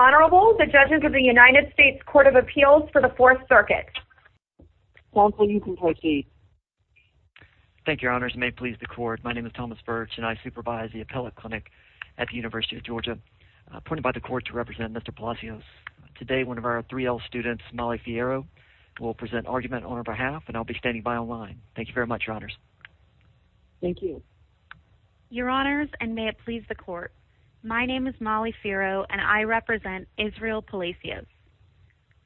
Honorable, the judges of the United States Court of Appeals for the Fourth Circuit. Counsel, you can proceed. Thank you, Your Honors. May it please the Court, my name is Thomas Birch and I supervise the Appellate Clinic at the University of Georgia. Appointed by the Court to represent Mr. Palacios. Today, one of our 3L students, Molly Fiero, will present argument on our behalf and I'll be standing by on line. Thank you very much, Your Honors. Thank you. Your Honors, and may it please the Court, My name is Molly Fiero and I represent Israel Palacios.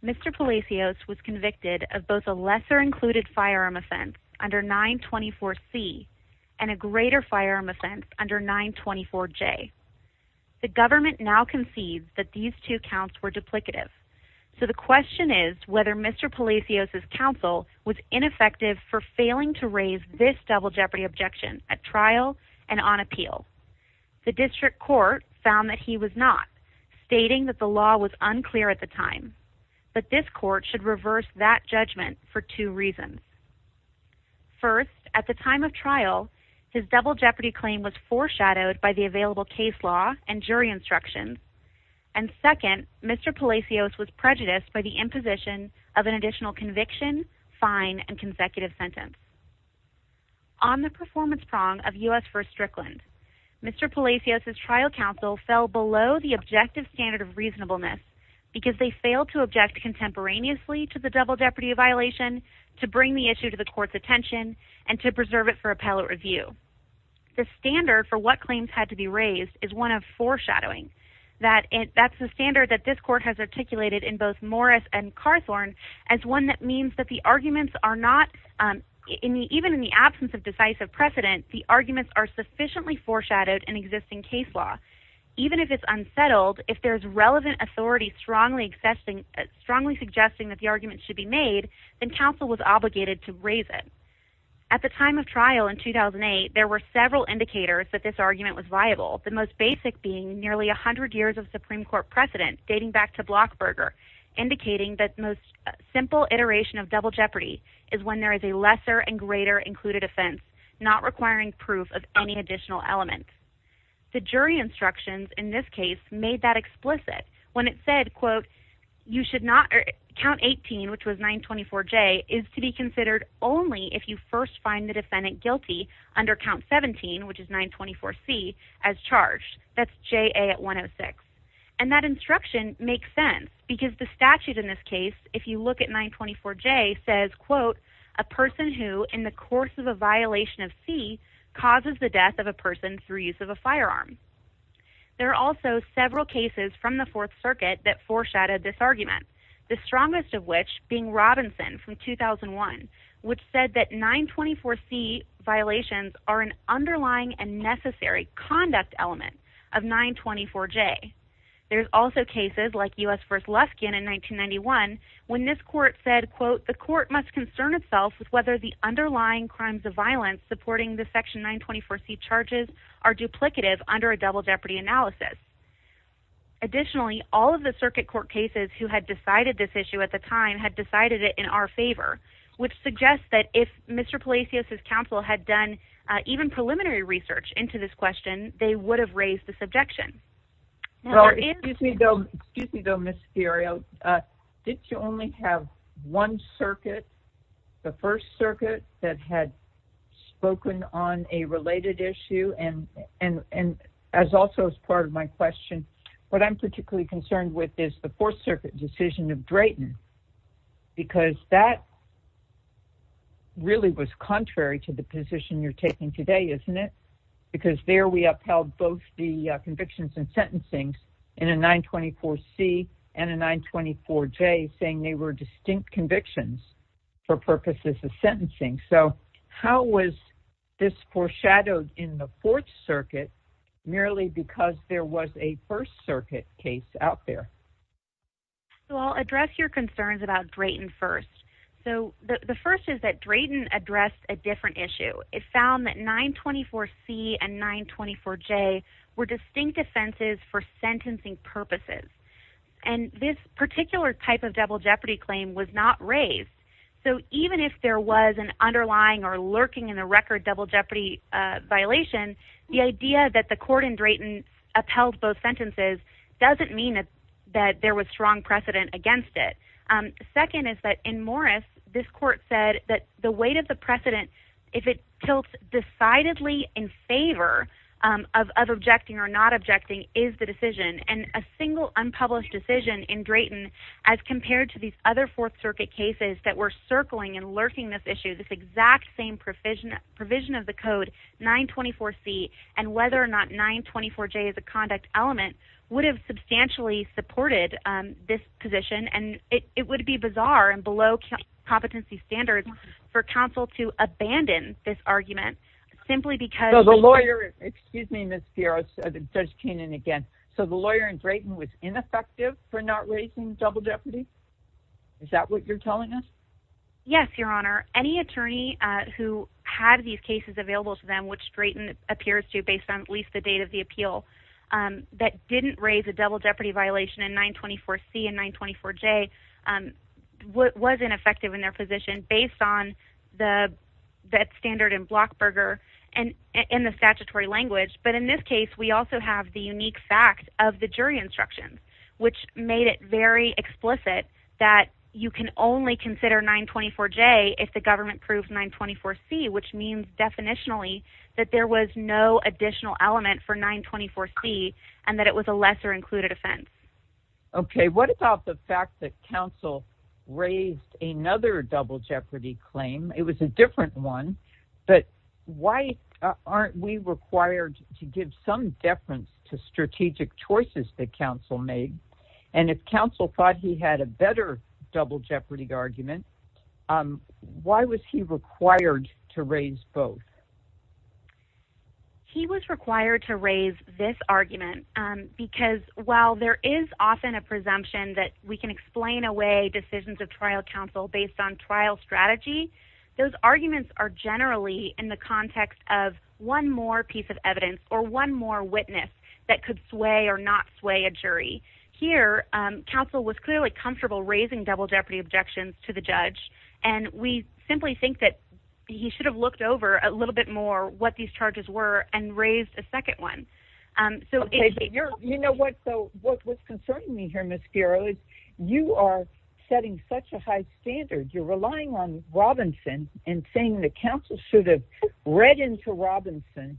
Mr. Palacios was convicted of both a lesser included firearm offense under 924C and a greater firearm offense under 924J. The government now concedes that these two counts were duplicative. So the question is whether Mr. Palacios' counsel was ineffective for failing to raise this double jeopardy objection at trial and on appeal. The district court found that he was not, stating that the law was unclear at the time. But this court should reverse that judgment for two reasons. First, at the time of trial, his double jeopardy claim was foreshadowed by the available case law and jury instructions. And second, Mr. Palacios was prejudiced by the imposition of an additional conviction, fine, and consecutive sentence. On the performance prong of U.S. v. Strickland, Mr. Palacios' trial counsel fell below the objective standard of reasonableness because they failed to object contemporaneously to the double jeopardy violation, to bring the issue to the court's attention, and to preserve it for appellate review. The standard for what claims had to be raised is one of foreshadowing. That's the standard that this court has articulated in both Morris and Carthorn as one that means that the arguments are not, even in the absence of decisive precedent, the arguments are sufficiently foreshadowed in existing case law. Even if it's unsettled, if there's relevant authority strongly suggesting that the argument should be made, then counsel was obligated to raise it. At the time of trial in 2008, there were several indicators that this argument was viable, the most basic being nearly 100 years of Supreme Court precedent, dating back to Blockberger, indicating that the most simple iteration of double jeopardy is when there is a lesser and greater included offense, not requiring proof of any additional element. The jury instructions in this case made that explicit. When it said, quote, count 18, which was 924J, is to be considered only if you first find the defendant guilty under count 17, which is 924C, as charged. That's JA at 106. And that instruction makes sense, because the statute in this case, if you look at 924J, says, quote, a person who, in the course of a violation of C, causes the death of a person through use of a firearm. There are also several cases from the Fourth Circuit that foreshadowed this argument, the strongest of which being Robinson from 2001, which said that 924C violations are an underlying and necessary conduct element of 924J. There's also cases like U.S. v. Luskin in 1991, when this court said, quote, the court must concern itself with whether the underlying crimes of violence supporting the section 924C charges are duplicative under a double jeopardy analysis. Additionally, all of the circuit court cases who had decided this issue at the time had decided it in our favor, which suggests that if Mr. Palacios' counsel had done even preliminary research into this question, they would have raised this objection. Well, excuse me, though, Ms. Fiorio, did you only have one circuit, the First Circuit, that had spoken on a related issue? And as also as part of my question, what I'm particularly concerned with is the Fourth Circuit decision of Drayton, because that really was contrary to the position you're taking today, isn't it? Because there we upheld both the convictions and sentencing in a 924C and a 924J, saying they were distinct convictions for purposes of sentencing. So how was this foreshadowed in the Fourth Circuit merely because there was a First Circuit case out there? Well, I'll address your concerns about Drayton first. So the first is that Drayton addressed a different issue. It found that 924C and 924J were distinct offenses for sentencing purposes. And this particular type of double jeopardy claim was not raised. So even if there was an underlying or lurking in the record double jeopardy violation, the idea that the court in Drayton upheld both sentences doesn't mean that there was strong precedent against it. Second is that in Morris, this court said that the weight of the precedent, if it tilts decidedly in favor of objecting or not objecting, is the decision. And a single unpublished decision in Drayton, as compared to these other Fourth Circuit cases that were circling and lurking this issue, this exact same provision of the code, 924C, and whether or not 924J is a conduct element, would have substantially supported this position. And it would be bizarre and below competency standards for counsel to abandon this argument simply because... Excuse me, Ms. Piero, Judge Keenan again. So the lawyer in Drayton was ineffective for not raising double jeopardy? Is that what you're telling us? Yes, Your Honor. Any attorney who had these cases available to them, which Drayton appears to, based on at least the date of the appeal, that didn't raise a double jeopardy violation in 924C and 924J was ineffective in their position based on that standard in Blockberger and in the statutory language. But in this case, we also have the unique fact of the jury instructions, which made it very explicit that you can only consider 924J if the government proved 924C, which means, definitionally, that there was no additional element for 924C and that it was a lesser included offense. Okay. What about the fact that counsel raised another double jeopardy claim? It was a different one. But why aren't we required to give some deference to strategic choices that counsel made? And if counsel thought he had a better double jeopardy argument, why was he required to raise both? He was required to raise this argument because while there is often a presumption that we can explain away decisions of trial counsel based on trial strategy, those arguments are generally in the context of one more piece of evidence or one more witness that could sway or not sway a jury. Here, counsel was clearly comfortable raising double jeopardy objections to the judge and we simply think that he should have looked over a little bit more what these charges were and raised a second one. Okay. You know what? So what's concerning me here, Ms. Garrow, is you are setting such a high standard. You're relying on Robinson and saying that counsel should have read into Robinson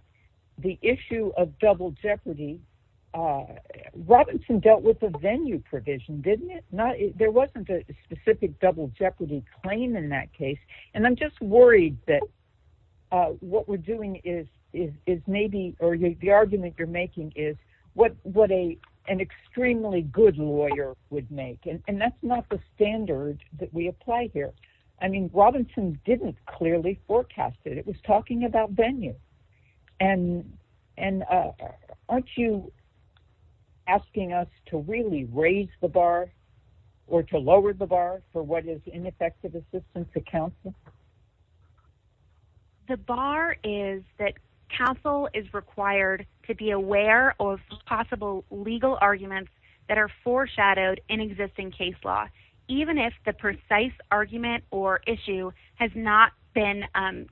the issue of double jeopardy. Robinson dealt with the venue provision, didn't he? There wasn't a specific double jeopardy claim in that case. And I'm just worried that what we're doing is maybe – or the argument you're making is what an extremely good lawyer would make. And that's not the standard that we apply here. I mean, Robinson didn't clearly forecast it. It was talking about venue. And aren't you asking us to really raise the bar or to lower the bar for what is ineffective assistance to counsel? The bar is that counsel is required to be aware of possible legal arguments that are foreshadowed in existing case law, even if the precise argument or issue has not been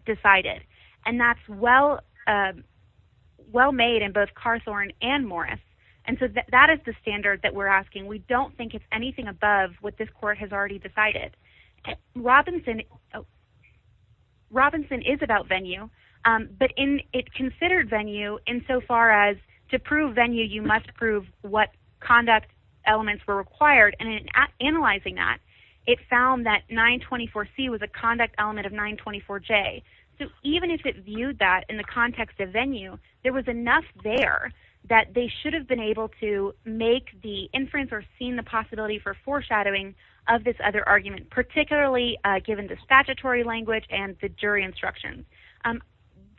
decided. And that's well made in both Carthorne and Morris. And so that is the standard that we're asking. We don't think it's anything above what this court has already decided. Robinson is about venue. But it considered venue insofar as to prove venue, you must prove what conduct elements were required. And in analyzing that, it found that 924C was a conduct element of 924J. So even if it viewed that in the context of venue, there was enough there that they should have been able to make the inference or seen the possibility for foreshadowing of this other argument, particularly given the statutory language and the jury instructions.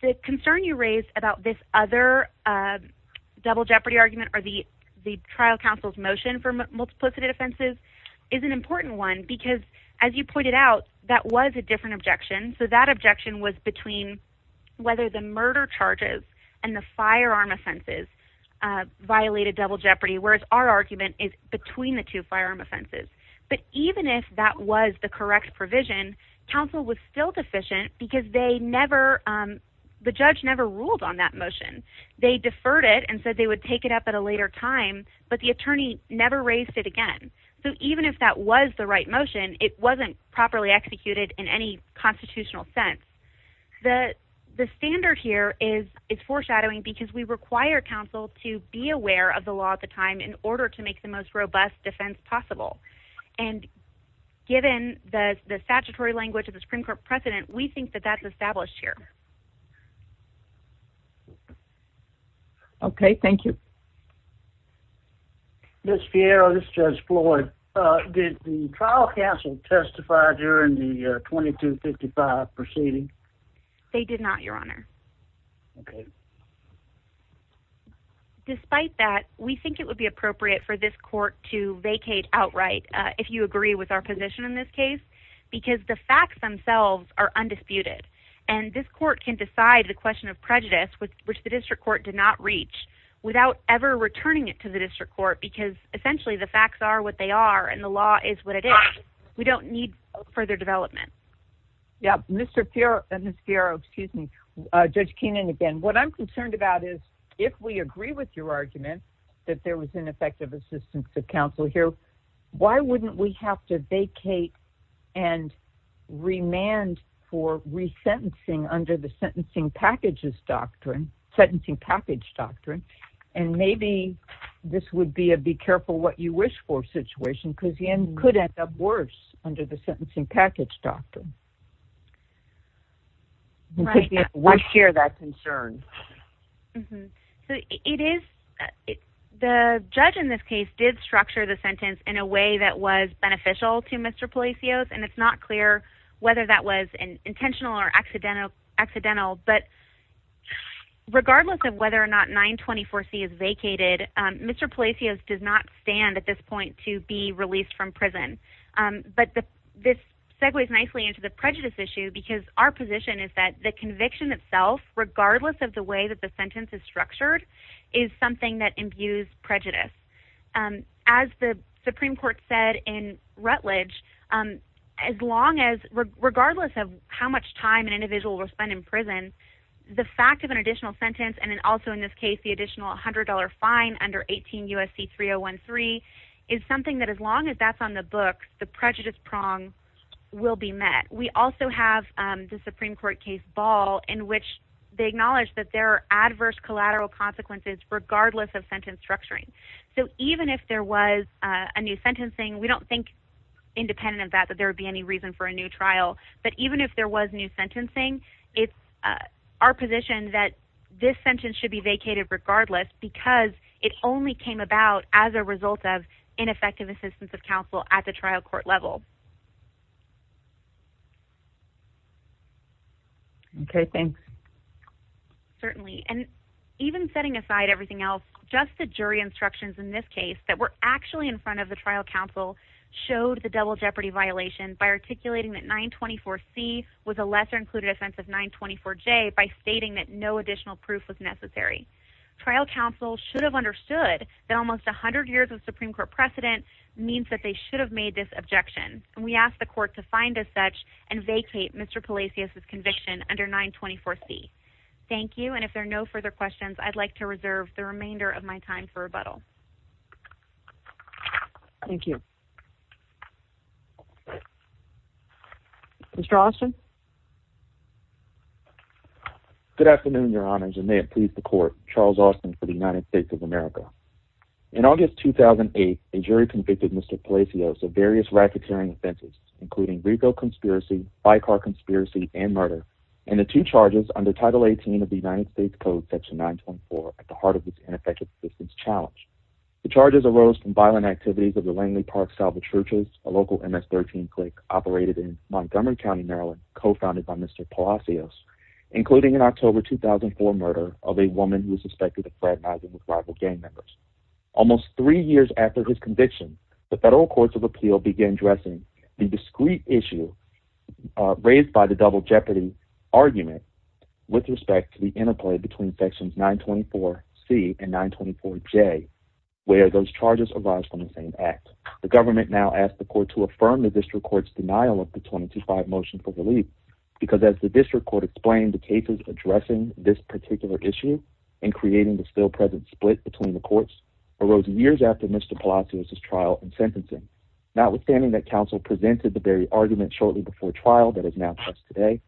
The concern you raised about this other double jeopardy argument or the trial counsel's motion for multiplicity offenses is an important one, because as you pointed out, that was a different objection. So that objection was between whether the murder charges and the firearm offenses violated double jeopardy, whereas our argument is between the two firearm offenses. But even if that was the correct provision, counsel was still deficient because the judge never ruled on that motion. They deferred it and said they would take it up at a later time, but the attorney never raised it again. So even if that was the right motion, it wasn't properly executed in any constitutional sense. The standard here is foreshadowing, because we require counsel to be aware of the law at the time in order to make the most robust defense possible. And given the statutory language of the Supreme Court precedent, we think that that's established here. Okay, thank you. Ms. Fiero, this is Judge Floyd. Did the trial counsel testify during the 2255 proceeding? They did not, Your Honor. Despite that, we think it would be appropriate for this court to vacate outright, if you agree with our position in this case, because the facts themselves are undisputed. And this court can decide the question of prejudice, which the district court did not reach, without ever returning it to the district court, because essentially the facts are what they are, and the law is what it is. We don't need further development. Yeah, Ms. Fiero, excuse me, Judge Keenan again, what I'm concerned about is, if we agree with your argument that there was ineffective assistance of counsel here, why wouldn't we have to vacate and remand for resentencing under the Sentencing Package Doctrine? Sentencing Package Doctrine. And maybe this would be a be careful what you wish for situation, because the end could end up worse under the Sentencing Package Doctrine. Right. We share that concern. It is, the judge in this case did structure the sentence in a way that was beneficial to Mr. Palacios, and it's not clear whether that was intentional or accidental, but regardless of whether or not 924C is vacated, Mr. Palacios does not stand at this point to be released from prison. But this segues nicely into the prejudice issue, because our position is that the conviction itself, regardless of the way that the sentence is structured, is something that imbues prejudice. As the Supreme Court said in Rutledge, as long as, regardless of how much time an individual will spend in prison, the fact of an additional sentence, and also in this case the additional $100 fine under 18 U.S.C. 3013, is something that as long as that's on the book, the prejudice prong will be met. We also have the Supreme Court case Ball, in which they acknowledge that there are adverse collateral consequences, regardless of sentence structuring. So even if there was a new sentencing, we don't think, independent of that, that there would be any reason for a new trial, but even if there was new sentencing, it's our position that this sentence should be vacated regardless, because it only came about as a result of ineffective assistance of counsel at the trial court level. Okay, thanks. Certainly. And even setting aside everything else, just the jury instructions in this case, that were actually in front of the trial counsel, showed the double jeopardy violation by articulating that 924C was a lesser included offense of 924J, by stating that no additional proof was necessary. Trial counsel should have understood that almost 100 years of Supreme Court precedent means that they should have made this objection. And we ask the court to find as such, and vacate Mr. Palacios' conviction under 924C. Thank you, and if there are no further questions, I'd like to reserve the remainder of my time for rebuttal. Thank you. Mr. Austin? Good afternoon, Your Honors, and may it please the court, Charles Austin for the United States of America. In August 2008, a jury convicted Mr. Palacios of various racketeering offenses, including retail conspiracy, by-car conspiracy, and murder, and the two charges under Title 18 of the United States Code, Section 924, at the heart of this ineffective assistance challenge. The charges arose from violent activities of the Langley Park Salvage Churches, a local MS-13 clique operated in Montgomery County, Maryland, co-founded by Mr. Palacios, including an October 2004 murder of a woman who was suspected of fraternizing with rival gang members. Almost three years after his conviction, the federal courts of appeal began addressing the discrete issue raised by the double jeopardy argument with respect to the interplay between Sections 924C and 924J, where those charges arise from the same act. The government now asked the court to affirm the district court's denial of the 22-5 motion for relief, because as the district court explained, the cases addressing this particular issue and creating the still-present split between the courts arose years after Mr. Palacios' trial and sentencing. Notwithstanding that counsel presented the very argument shortly before trial that is now just today,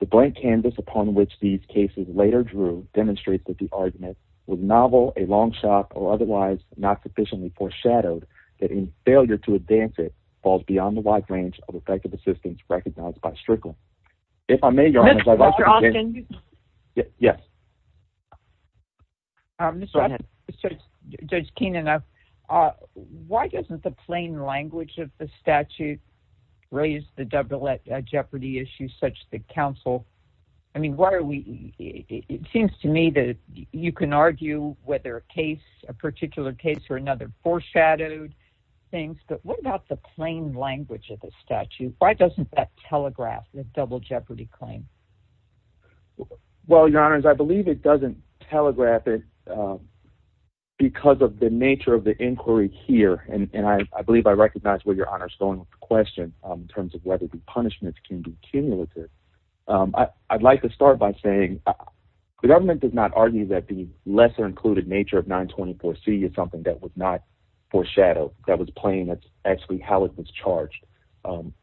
the blank canvas upon which these cases later drew demonstrates that the argument was novel, a long shot, or otherwise not sufficiently foreshadowed that any failure to advance it falls beyond the wide range of effective assistance recognized by Strickland. If I may, Your Honors, I'd like to begin... Mr. Austin? Yes. Judge Keenan, why doesn't the plain language of the statute raise the double jeopardy issue such that counsel... I mean, why are we... It seems to me that you can argue whether a case is a particular case or another foreshadowed thing, but what about the plain language of the statute? Why doesn't that telegraph the double jeopardy claim? Well, Your Honors, I believe it doesn't telegraph it because of the nature of the inquiry here, and I believe I recognize where Your Honor's going with the question in terms of whether the punishments can be cumulative. I'd like to start by saying the government does not argue that the lesser-included nature of 924C is something that was not foreshadowed, that was plain. That's actually how it was charged.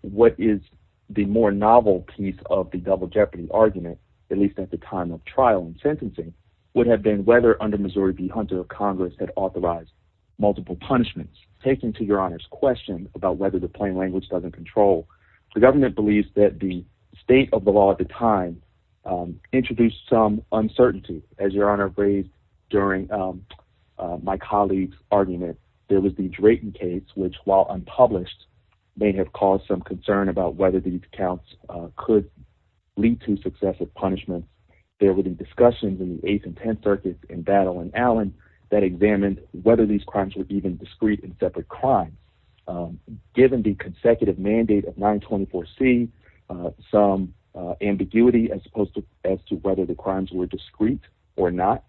What is the more novel piece of the double jeopardy argument, at least at the time of trial and sentencing, would have been whether under Missouri v. Hunter, Congress had authorized multiple punishments. Taking to Your Honor's question about whether the plain language doesn't control, the government believes that the state of the law at the time introduced some uncertainty, as Your Honor raised during my colleague's argument. There was the Drayton case, which, while unpublished, may have caused some concern about whether these counts could lead to successive punishment. There was a discussion in the Eighth and Tenth Circuit in Battle and Allen that examined whether these crimes were even discrete and separate crimes. Given the consecutive mandate of 924C, some ambiguity as to whether the crimes were discrete or not,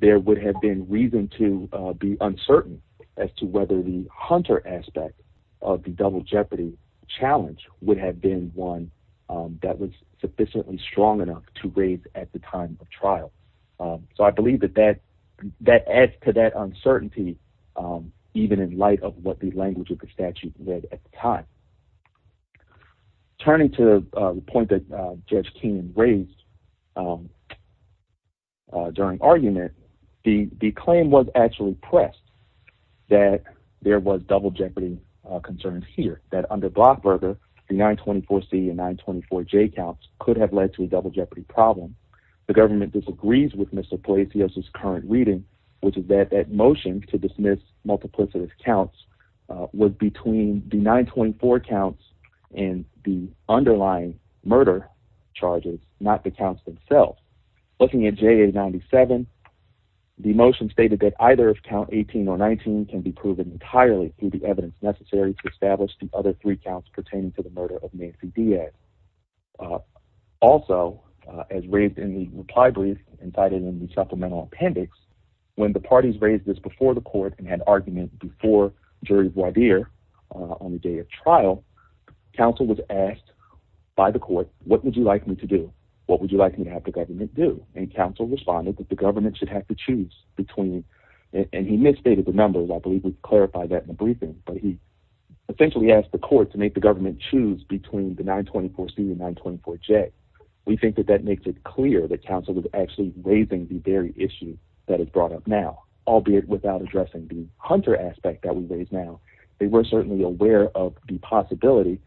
there would have been reason to be uncertain as to whether the Hunter aspect of the double jeopardy challenge would have been one that was sufficiently strong enough to raise at the time of trial. I believe that adds to that uncertainty, even in light of what the language of the statute read at the time. Turning to the point that Judge Keenan raised, during argument, the claim was actually pressed that there was double jeopardy concerns here, that under Blochberger, the 924C and 924J counts could have led to a double jeopardy problem. The government disagrees with Mr. Polisios' current reading, which is that that motion to dismiss multiplicative counts was between the 924 counts and the underlying murder charges, not the counts themselves. Looking at JA 97, the motion stated that either count 18 or 19 can be proven entirely through the evidence necessary to establish the other three counts pertaining to the murder of Nancy Diaz. Also, as raised in the reply brief and cited in the supplemental appendix, when the parties raised this before the court and had argument before Jury voir dire on the day of trial, counsel was asked by the court, what would you like me to have the government do? And counsel responded that the government should have to choose between, and he misstated the numbers, I believe we clarified that in the briefing, but he essentially asked the court to make the government choose between the 924C and 924J. We think that that makes it clear that counsel was actually raising the very issue that is brought up now, albeit without addressing the Hunter aspect that we raise now. They were certainly aware of the possibility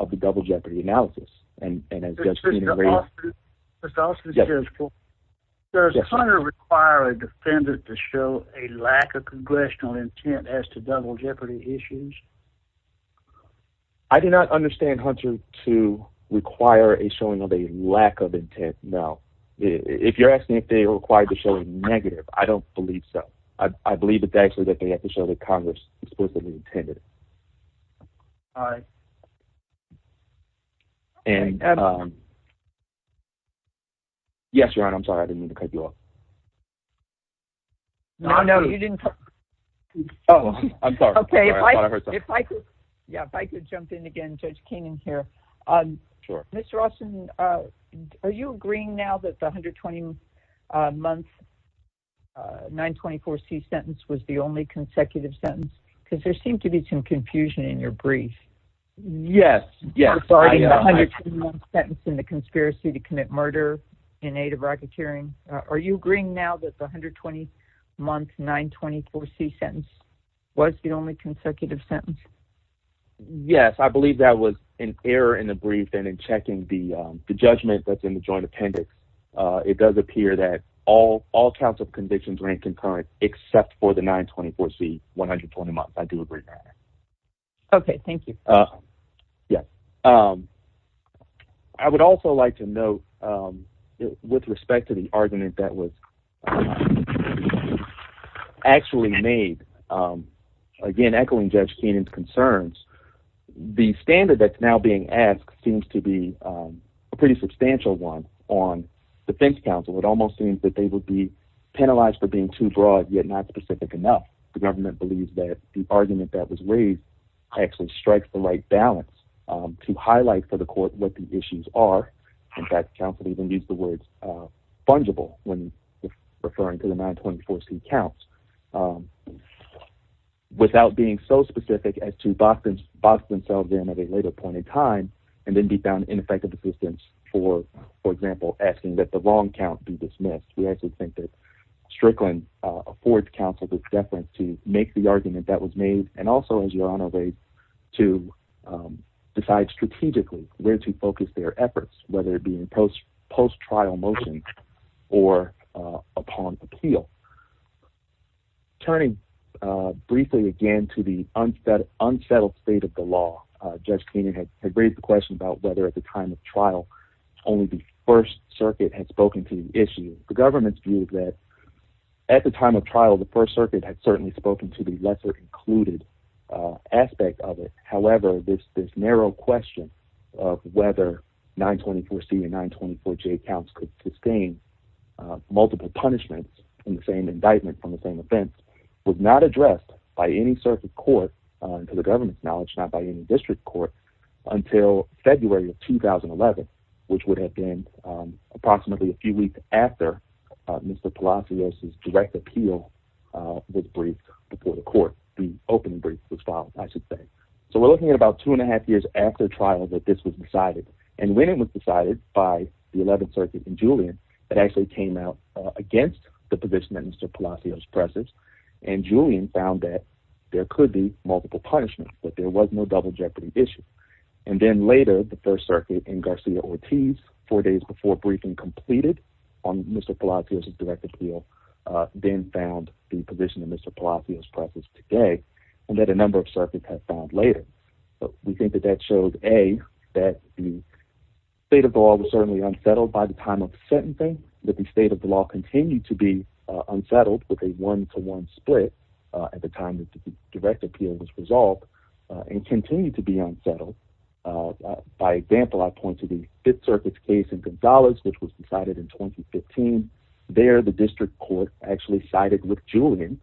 of the double jeopardy analysis, and as just seen and raised. Mr. Austin, does Hunter require a defendant to show a lack of congressional intent as to double jeopardy issues? I do not understand Hunter to require a showing of a lack of intent, no. If you're asking if they are required to show a negative, I don't believe so. I believe it's actually that they have to show that Congress explicitly intended it. All right. Yes, Your Honor, I'm sorry. I didn't mean to cut you off. No, no, you didn't. Oh, I'm sorry. I thought I heard something. If I could jump in again, Judge Keenan here. Sure. Mr. Austin, are you agreeing now that the 120-month 924C sentence was the only consecutive sentence? Because there seemed to be some confusion in your brief. Yes, yes. Regarding the 120-month sentence in the conspiracy to commit murder in aid of racketeering. Are you agreeing now that the 120-month 924C sentence was the only consecutive sentence? Yes. I believe that was an error in the brief and in checking the judgment that's in the joint appendix. It does appear that all counts of convictions are inconcurrent except for the 924C 120-month. I do agree, Your Honor. Okay, thank you. Yes. I would also like to note with respect to the argument that was actually made again echoing Judge Keenan's concerns, the standard that's now being asked seems to be a pretty substantial one on defense counsel. It almost seems that they would be too broad, yet not specific enough. The government believes that the argument that was raised actually strikes the right balance to highlight for the court what the issues are. In fact, counsel even used the words fungible when referring to the 924C counts without being so specific as to box themselves in at a later point in time and then be found ineffective assistance for, for example, asking that the wrong count be dismissed. We actually think that Strickland affords counsel this deference to make the argument that was made and also, as Your Honor raised, to decide strategically where to focus their efforts, whether it be in post-trial motions or upon appeal. Turning briefly again to the unsettled state of the law, Judge Keenan had raised the question about whether at the time of trial only the First Circuit had spoken to the lesser included aspect of it. However, this narrow question of whether 924C and 924J counts could sustain multiple punishments in the same indictment from the same event was not addressed by any circuit court to the government's knowledge, not by any district court until February of 2011, which would have been approximately a few weeks after the Mr. Palacios' direct appeal was briefed before the court. The open brief was filed, I should say. So we're looking at about two and a half years after trial that this was decided. And when it was decided by the 11th Circuit and Julian, it actually came out against the position that Mr. Palacios presses and Julian found that there could be multiple punishments, that there was no double jeopardy issue. And then later, the First Circuit and Garcia-Ortiz, four days before the briefing completed on Mr. Palacios' direct appeal, then found the position that Mr. Palacios presses today, and that a number of circuits have found later. We think that that shows, A, that the state of the law was certainly unsettled by the time of sentencing, that the state of the law continued to be unsettled with a one-to-one split at the time that the direct appeal was resolved and continued to be unsettled. By example, I point to the Fifth Circuit's case in Gonzales, which was decided in 2015. There, the district court actually sided with Julian,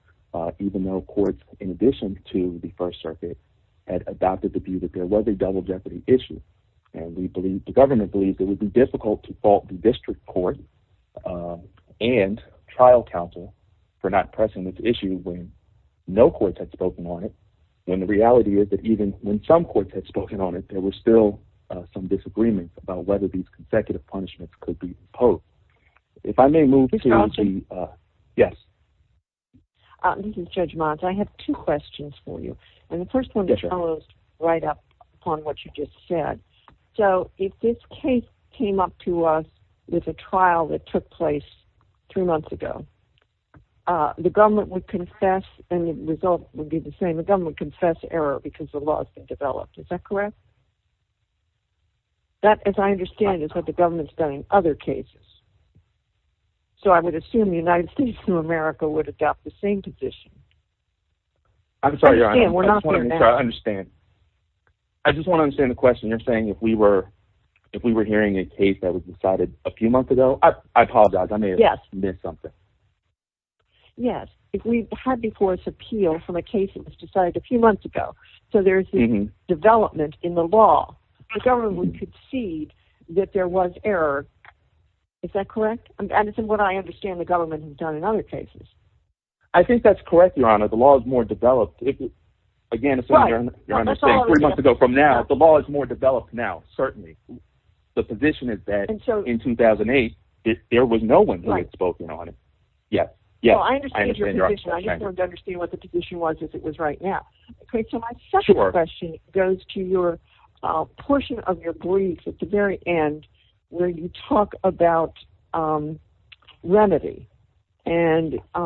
even though courts, in addition to the First Circuit, had adopted the view that there was a double jeopardy issue. And the government believes it would be difficult to fault the district court and trial counsel for not pressing this issue when no courts had spoken on it, when the reality is that even when some courts had spoken on it, there were still some disagreements about whether these consecutive punishments could be imposed. If I may move to... Yes. This is Judge Mons. I have two questions for you. And the first one follows right up upon what you just said. So, if this case came up to us with a trial that took place three months ago, the government would confess, and the result would be the same, the government would confess error because the law has been developed. Is that correct? That, as I understand, is what the government's done in other cases. So I would assume the United States of America would adopt the same position. I'm sorry. I just want to understand. I just want to understand the question. You're saying if we were hearing a case that was decided a few months ago... I apologize. I may have missed something. Yes. If we had before us appeal from a case that was decided a few months ago, so there's a development in the law, the government would concede that there was error. Is that correct? And it's what I understand the government has done in other cases. I think that's correct, Your Honor. The law is more developed. Again, as you're saying, three months ago from now, the law is more developed now, certainly. The position is that in 2008, there was no one who had spoken on it. Yes. I understand your position. I just want to understand what the position was if it was right now. So my second question goes to your portion of your brief at the very end where you talk about remedy. And I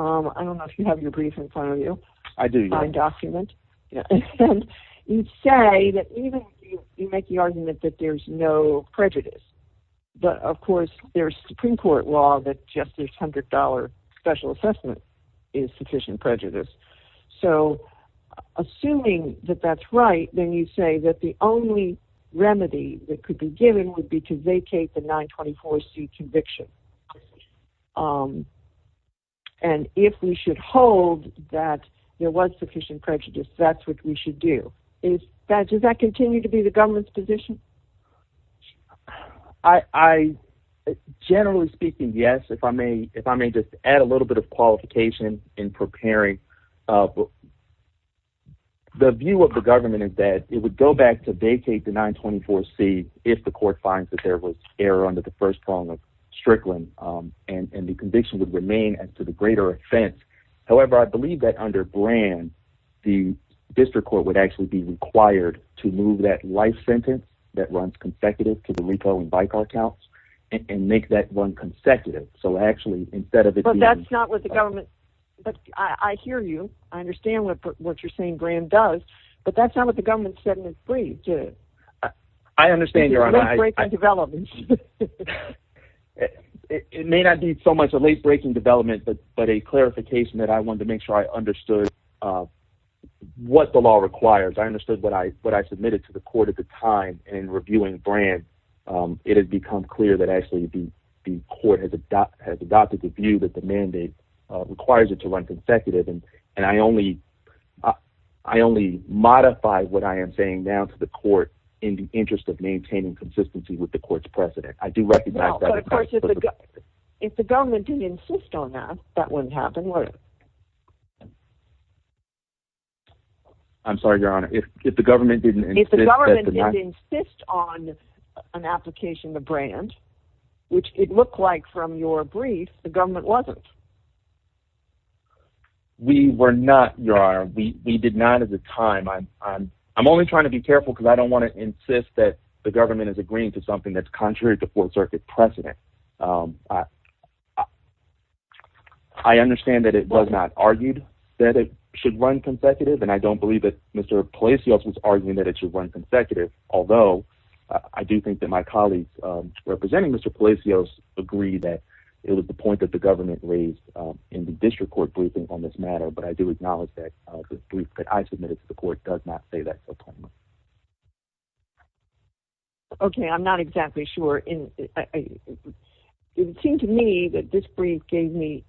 don't know if you have your brief in front of you. I do. You say that you make the argument that there's no prejudice. But of course, there's Supreme Court law that just a $100 special assessment is sufficient prejudice. Assuming that that's right, then you say that the only remedy that could be given would be to vacate the 924C conviction. And if we should hold that there was sufficient prejudice, that's what we should do. Does that continue to be the government's position? Generally speaking, yes. If I may just add a little bit of qualification in preparing. The view of the government is that it would go back to vacate the 924C if the court finds that there was error under the first prong of Strickland and the conviction would remain as to the greater offense. However, I believe that under Brand, the district court would actually be required to move that life sentence that runs consecutive to the RICO and BICAR counts and make that one consecutive. So actually, instead of... I hear you. I understand what you're saying Brand does, but that's not what the government said in its brief. I understand, Your Honor. It may not be so much a late-breaking development, but a clarification that I wanted to make sure I understood what the law requires. I understood what I submitted to the court at the time in reviewing Brand. It has become clear that actually the court has adopted the view that the mandate requires it to run consecutive and I only modify what I am saying now to the court in the interest of maintaining consistency with the court's precedent. If the government didn't insist on that, that wouldn't happen, would it? I'm sorry, Your Honor. If the government didn't... If the government didn't insist on an application to Brand, which it looked like from your brief, the government wasn't. We were not, Your Honor. We did not at the time. I'm only trying to be careful because I don't want to insist that the government is agreeing to something that's contrary to the Fourth Circuit precedent. I understand that it was not argued that it should run consecutive and I don't believe that Mr. Palacios was arguing that it should run consecutive, although I do think that my colleagues representing Mr. Palacios agree that it was the point that the government raised in the district court briefing on this matter, but I do acknowledge that the brief that I submitted to the court does not say that. Okay, I'm not exactly sure. It seemed to me that this brief gave me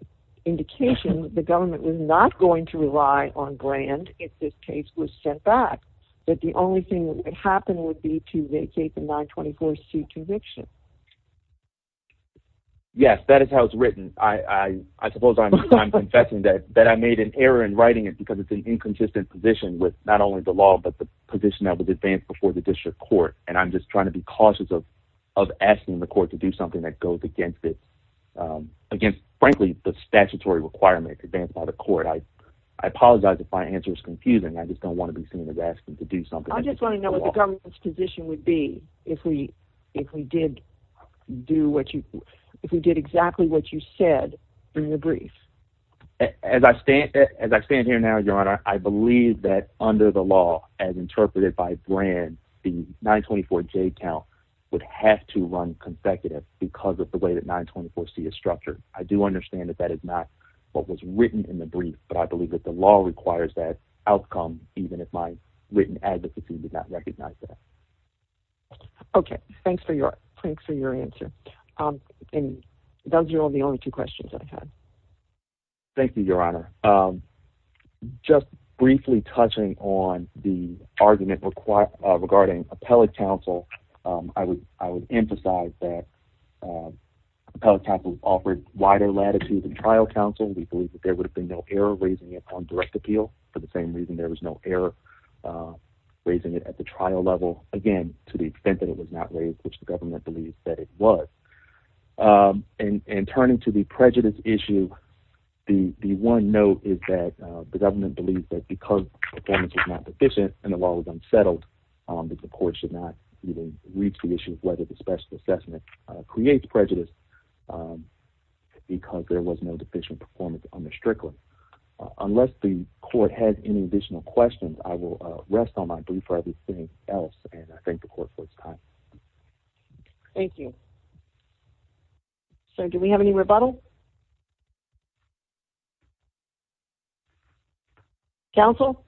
indication that the government was not going to rely on Brand if this case was sent back. That the only thing that would happen would be to vacate the 924C conviction. Yes, that is how it's written. I suppose I'm confessing that I made an error in writing it because it's an inconsistent position with not only the law but the position that was advanced before the district court and I'm just trying to be cautious of asking the court to do something that goes against, frankly, the statutory requirement advanced by the court. I apologize if my answer is confusing. I just don't want to be seen as asking to do something. I just want to know what the government's position would be if we did do what you, if we did exactly what you said in the brief. As I stand here now, Your Honor, I believe that under the law as interpreted by Brand, the 924J count would have to run consecutive because of the way that 924C is structured. I do understand that that is not what was written in the brief, but I believe that the law requires that outcome even if my written advocacy did not recognize that. Okay. Thanks for your answer. Those are all the only two questions I had. Thank you, Your Honor. Just briefly touching on the argument regarding appellate counsel, I would emphasize that appellate counsel offered wider latitude than trial counsel. We believe that there would have been no error raising it on direct appeal. For the same reason, there was no error raising it at the trial level. Again, to the extent that it was not raised, which the government believes that it was. In turning to the prejudice issue, the one note is that the government believes that because performance was not deficient and the law was unsettled, that the court should not reach the issue of whether the special assessment creates prejudice because there was no deficient performance on the strickland. Unless the court has any additional questions, I will rest on my brief for everything else and I thank the court for its time. Thank you. Do we have any rebuttal? Counsel?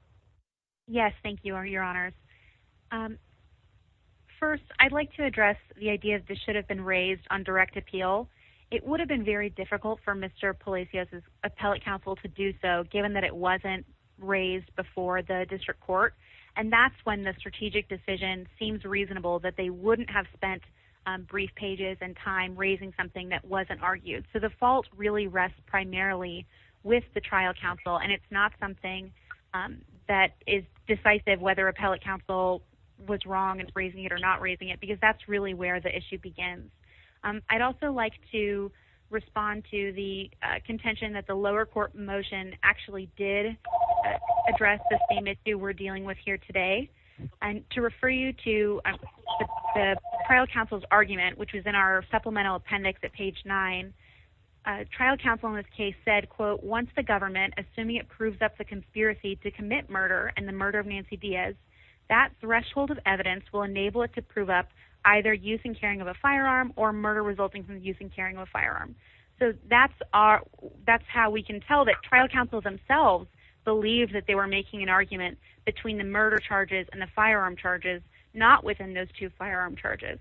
Yes, thank you, Your Honors. First, I'd like to address the idea that this should have been raised on direct appeal. It would have been very difficult for Mr. Palacios' appellate counsel to do so given that it wasn't raised before the district court. That's when the strategic decision seems reasonable that they wouldn't have spent brief pages and time raising something that wasn't argued. The fault really rests primarily with the trial counsel and it's not something that is decisive whether appellate counsel was wrong in raising it or not raising it because that's really where the issue begins. I'd also like to respond to the contention that the lower court motion actually did address the same issue we're dealing with here today. To refer you to the trial counsel's argument, which was in our supplemental appendix at page 9, trial counsel in this case said, quote, once the government, assuming it proves up the conspiracy to commit murder and the murder of Nancy Diaz, that threshold of evidence will enable it to prove up either use and carrying of a firearm or murder resulting from use and carrying of a firearm. That's how we can tell that trial counsel themselves believed that they were making an argument between the murder charges and the firearm charges, not within those two firearm charges.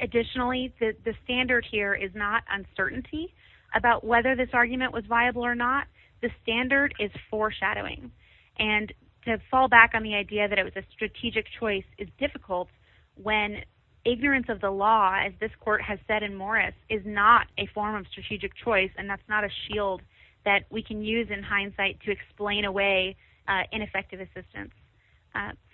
Additionally, the standard here is not uncertainty about whether this argument was viable or not. The standard is foreshadowing. To fall back on the idea that it was a strategic choice is difficult when ignorance of the law, as this court has said in Morris, is not a form of strategic choice and that's not a shield that we can use in hindsight to explain away ineffective assistance.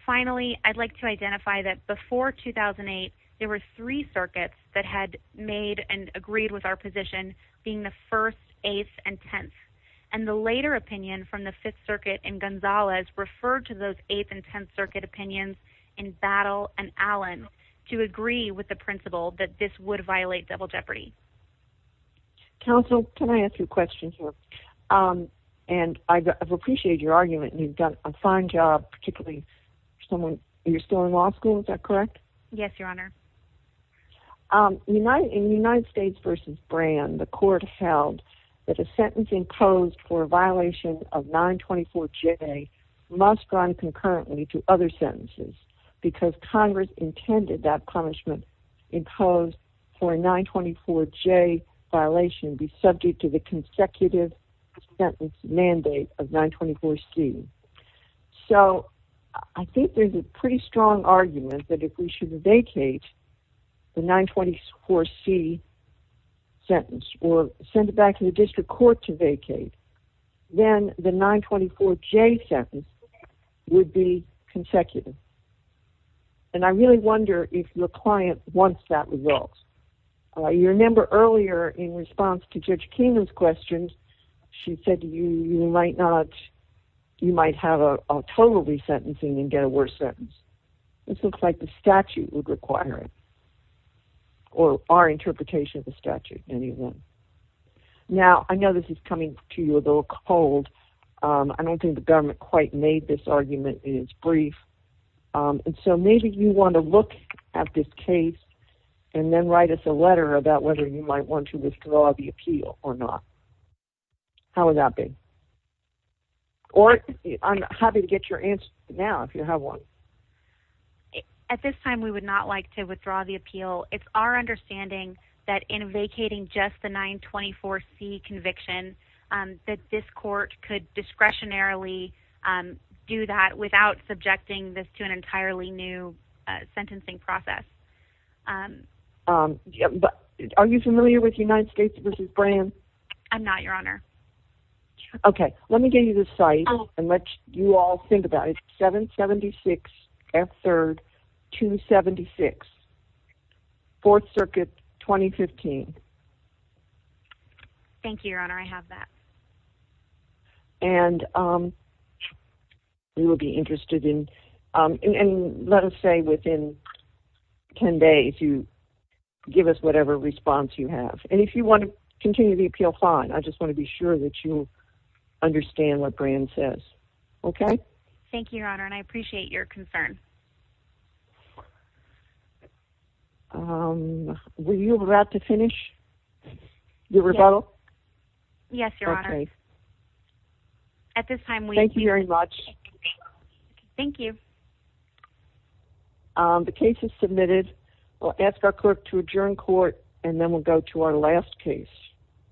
Finally, I'd like to add that before 2008, there were three circuits that had made and agreed with our position being the 1st, 8th and 10th and the later opinion from the 5th Circuit and Gonzalez referred to those 8th and 10th Circuit opinions in Battle and Allen to agree with the principle that this would violate double jeopardy. Counsel, can I ask you a question here? And I've appreciated your argument and you've done a fine job. You're still in law school, is that correct? Yes, Your Honor. In United States v. Brand, the court held that a sentence imposed for a violation of 924J must run concurrently to other sentences because Congress intended that punishment imposed for a 924J violation be subject to the consecutive sentence mandate of 924C. So, I think there's a pretty strong argument that if we should vacate the 924C sentence or send it back to the district court to vacate, then the 924J sentence would be consecutive. And I really wonder if your client wants that result. You remember earlier in response to Judge Keenan's questions, she said you might have a total resentencing and get a worse sentence. This looks like the statute would require it. Or our interpretation of the statute, anyway. Now, I know this is coming to you a little cold. I don't think the government quite made this argument in its brief. And so maybe you want to look at this case and then write us a letter about whether you might want to withdraw the appeal or not. How would that be? Or I'm happy to get your answer now if you have one. At this time, we would not like to withdraw the appeal. It's our understanding that in vacating just the 924C conviction, that this court could discretionarily do that without subjecting this to an entirely new sentencing process. Are you familiar with United States v. Brand? I'm not, Your Honor. Okay, let me give you the site and let you all think about it. 776F3rd 276 4th Circuit 2015. Thank you, Your Honor. I have that. And we will be interested in and let us say within 10 days you give us whatever response you have. And if you want to continue the appeal, fine. I just want to be sure that you understand what Brand says. Okay? Thank you, Your Honor, and I appreciate your concern. Were you about to finish your rebuttal? Yes, Your Honor. At this time, we... Thank you very much. Thank you. The case is submitted. We'll ask our clerk to adjourn court and then we'll go to our last case.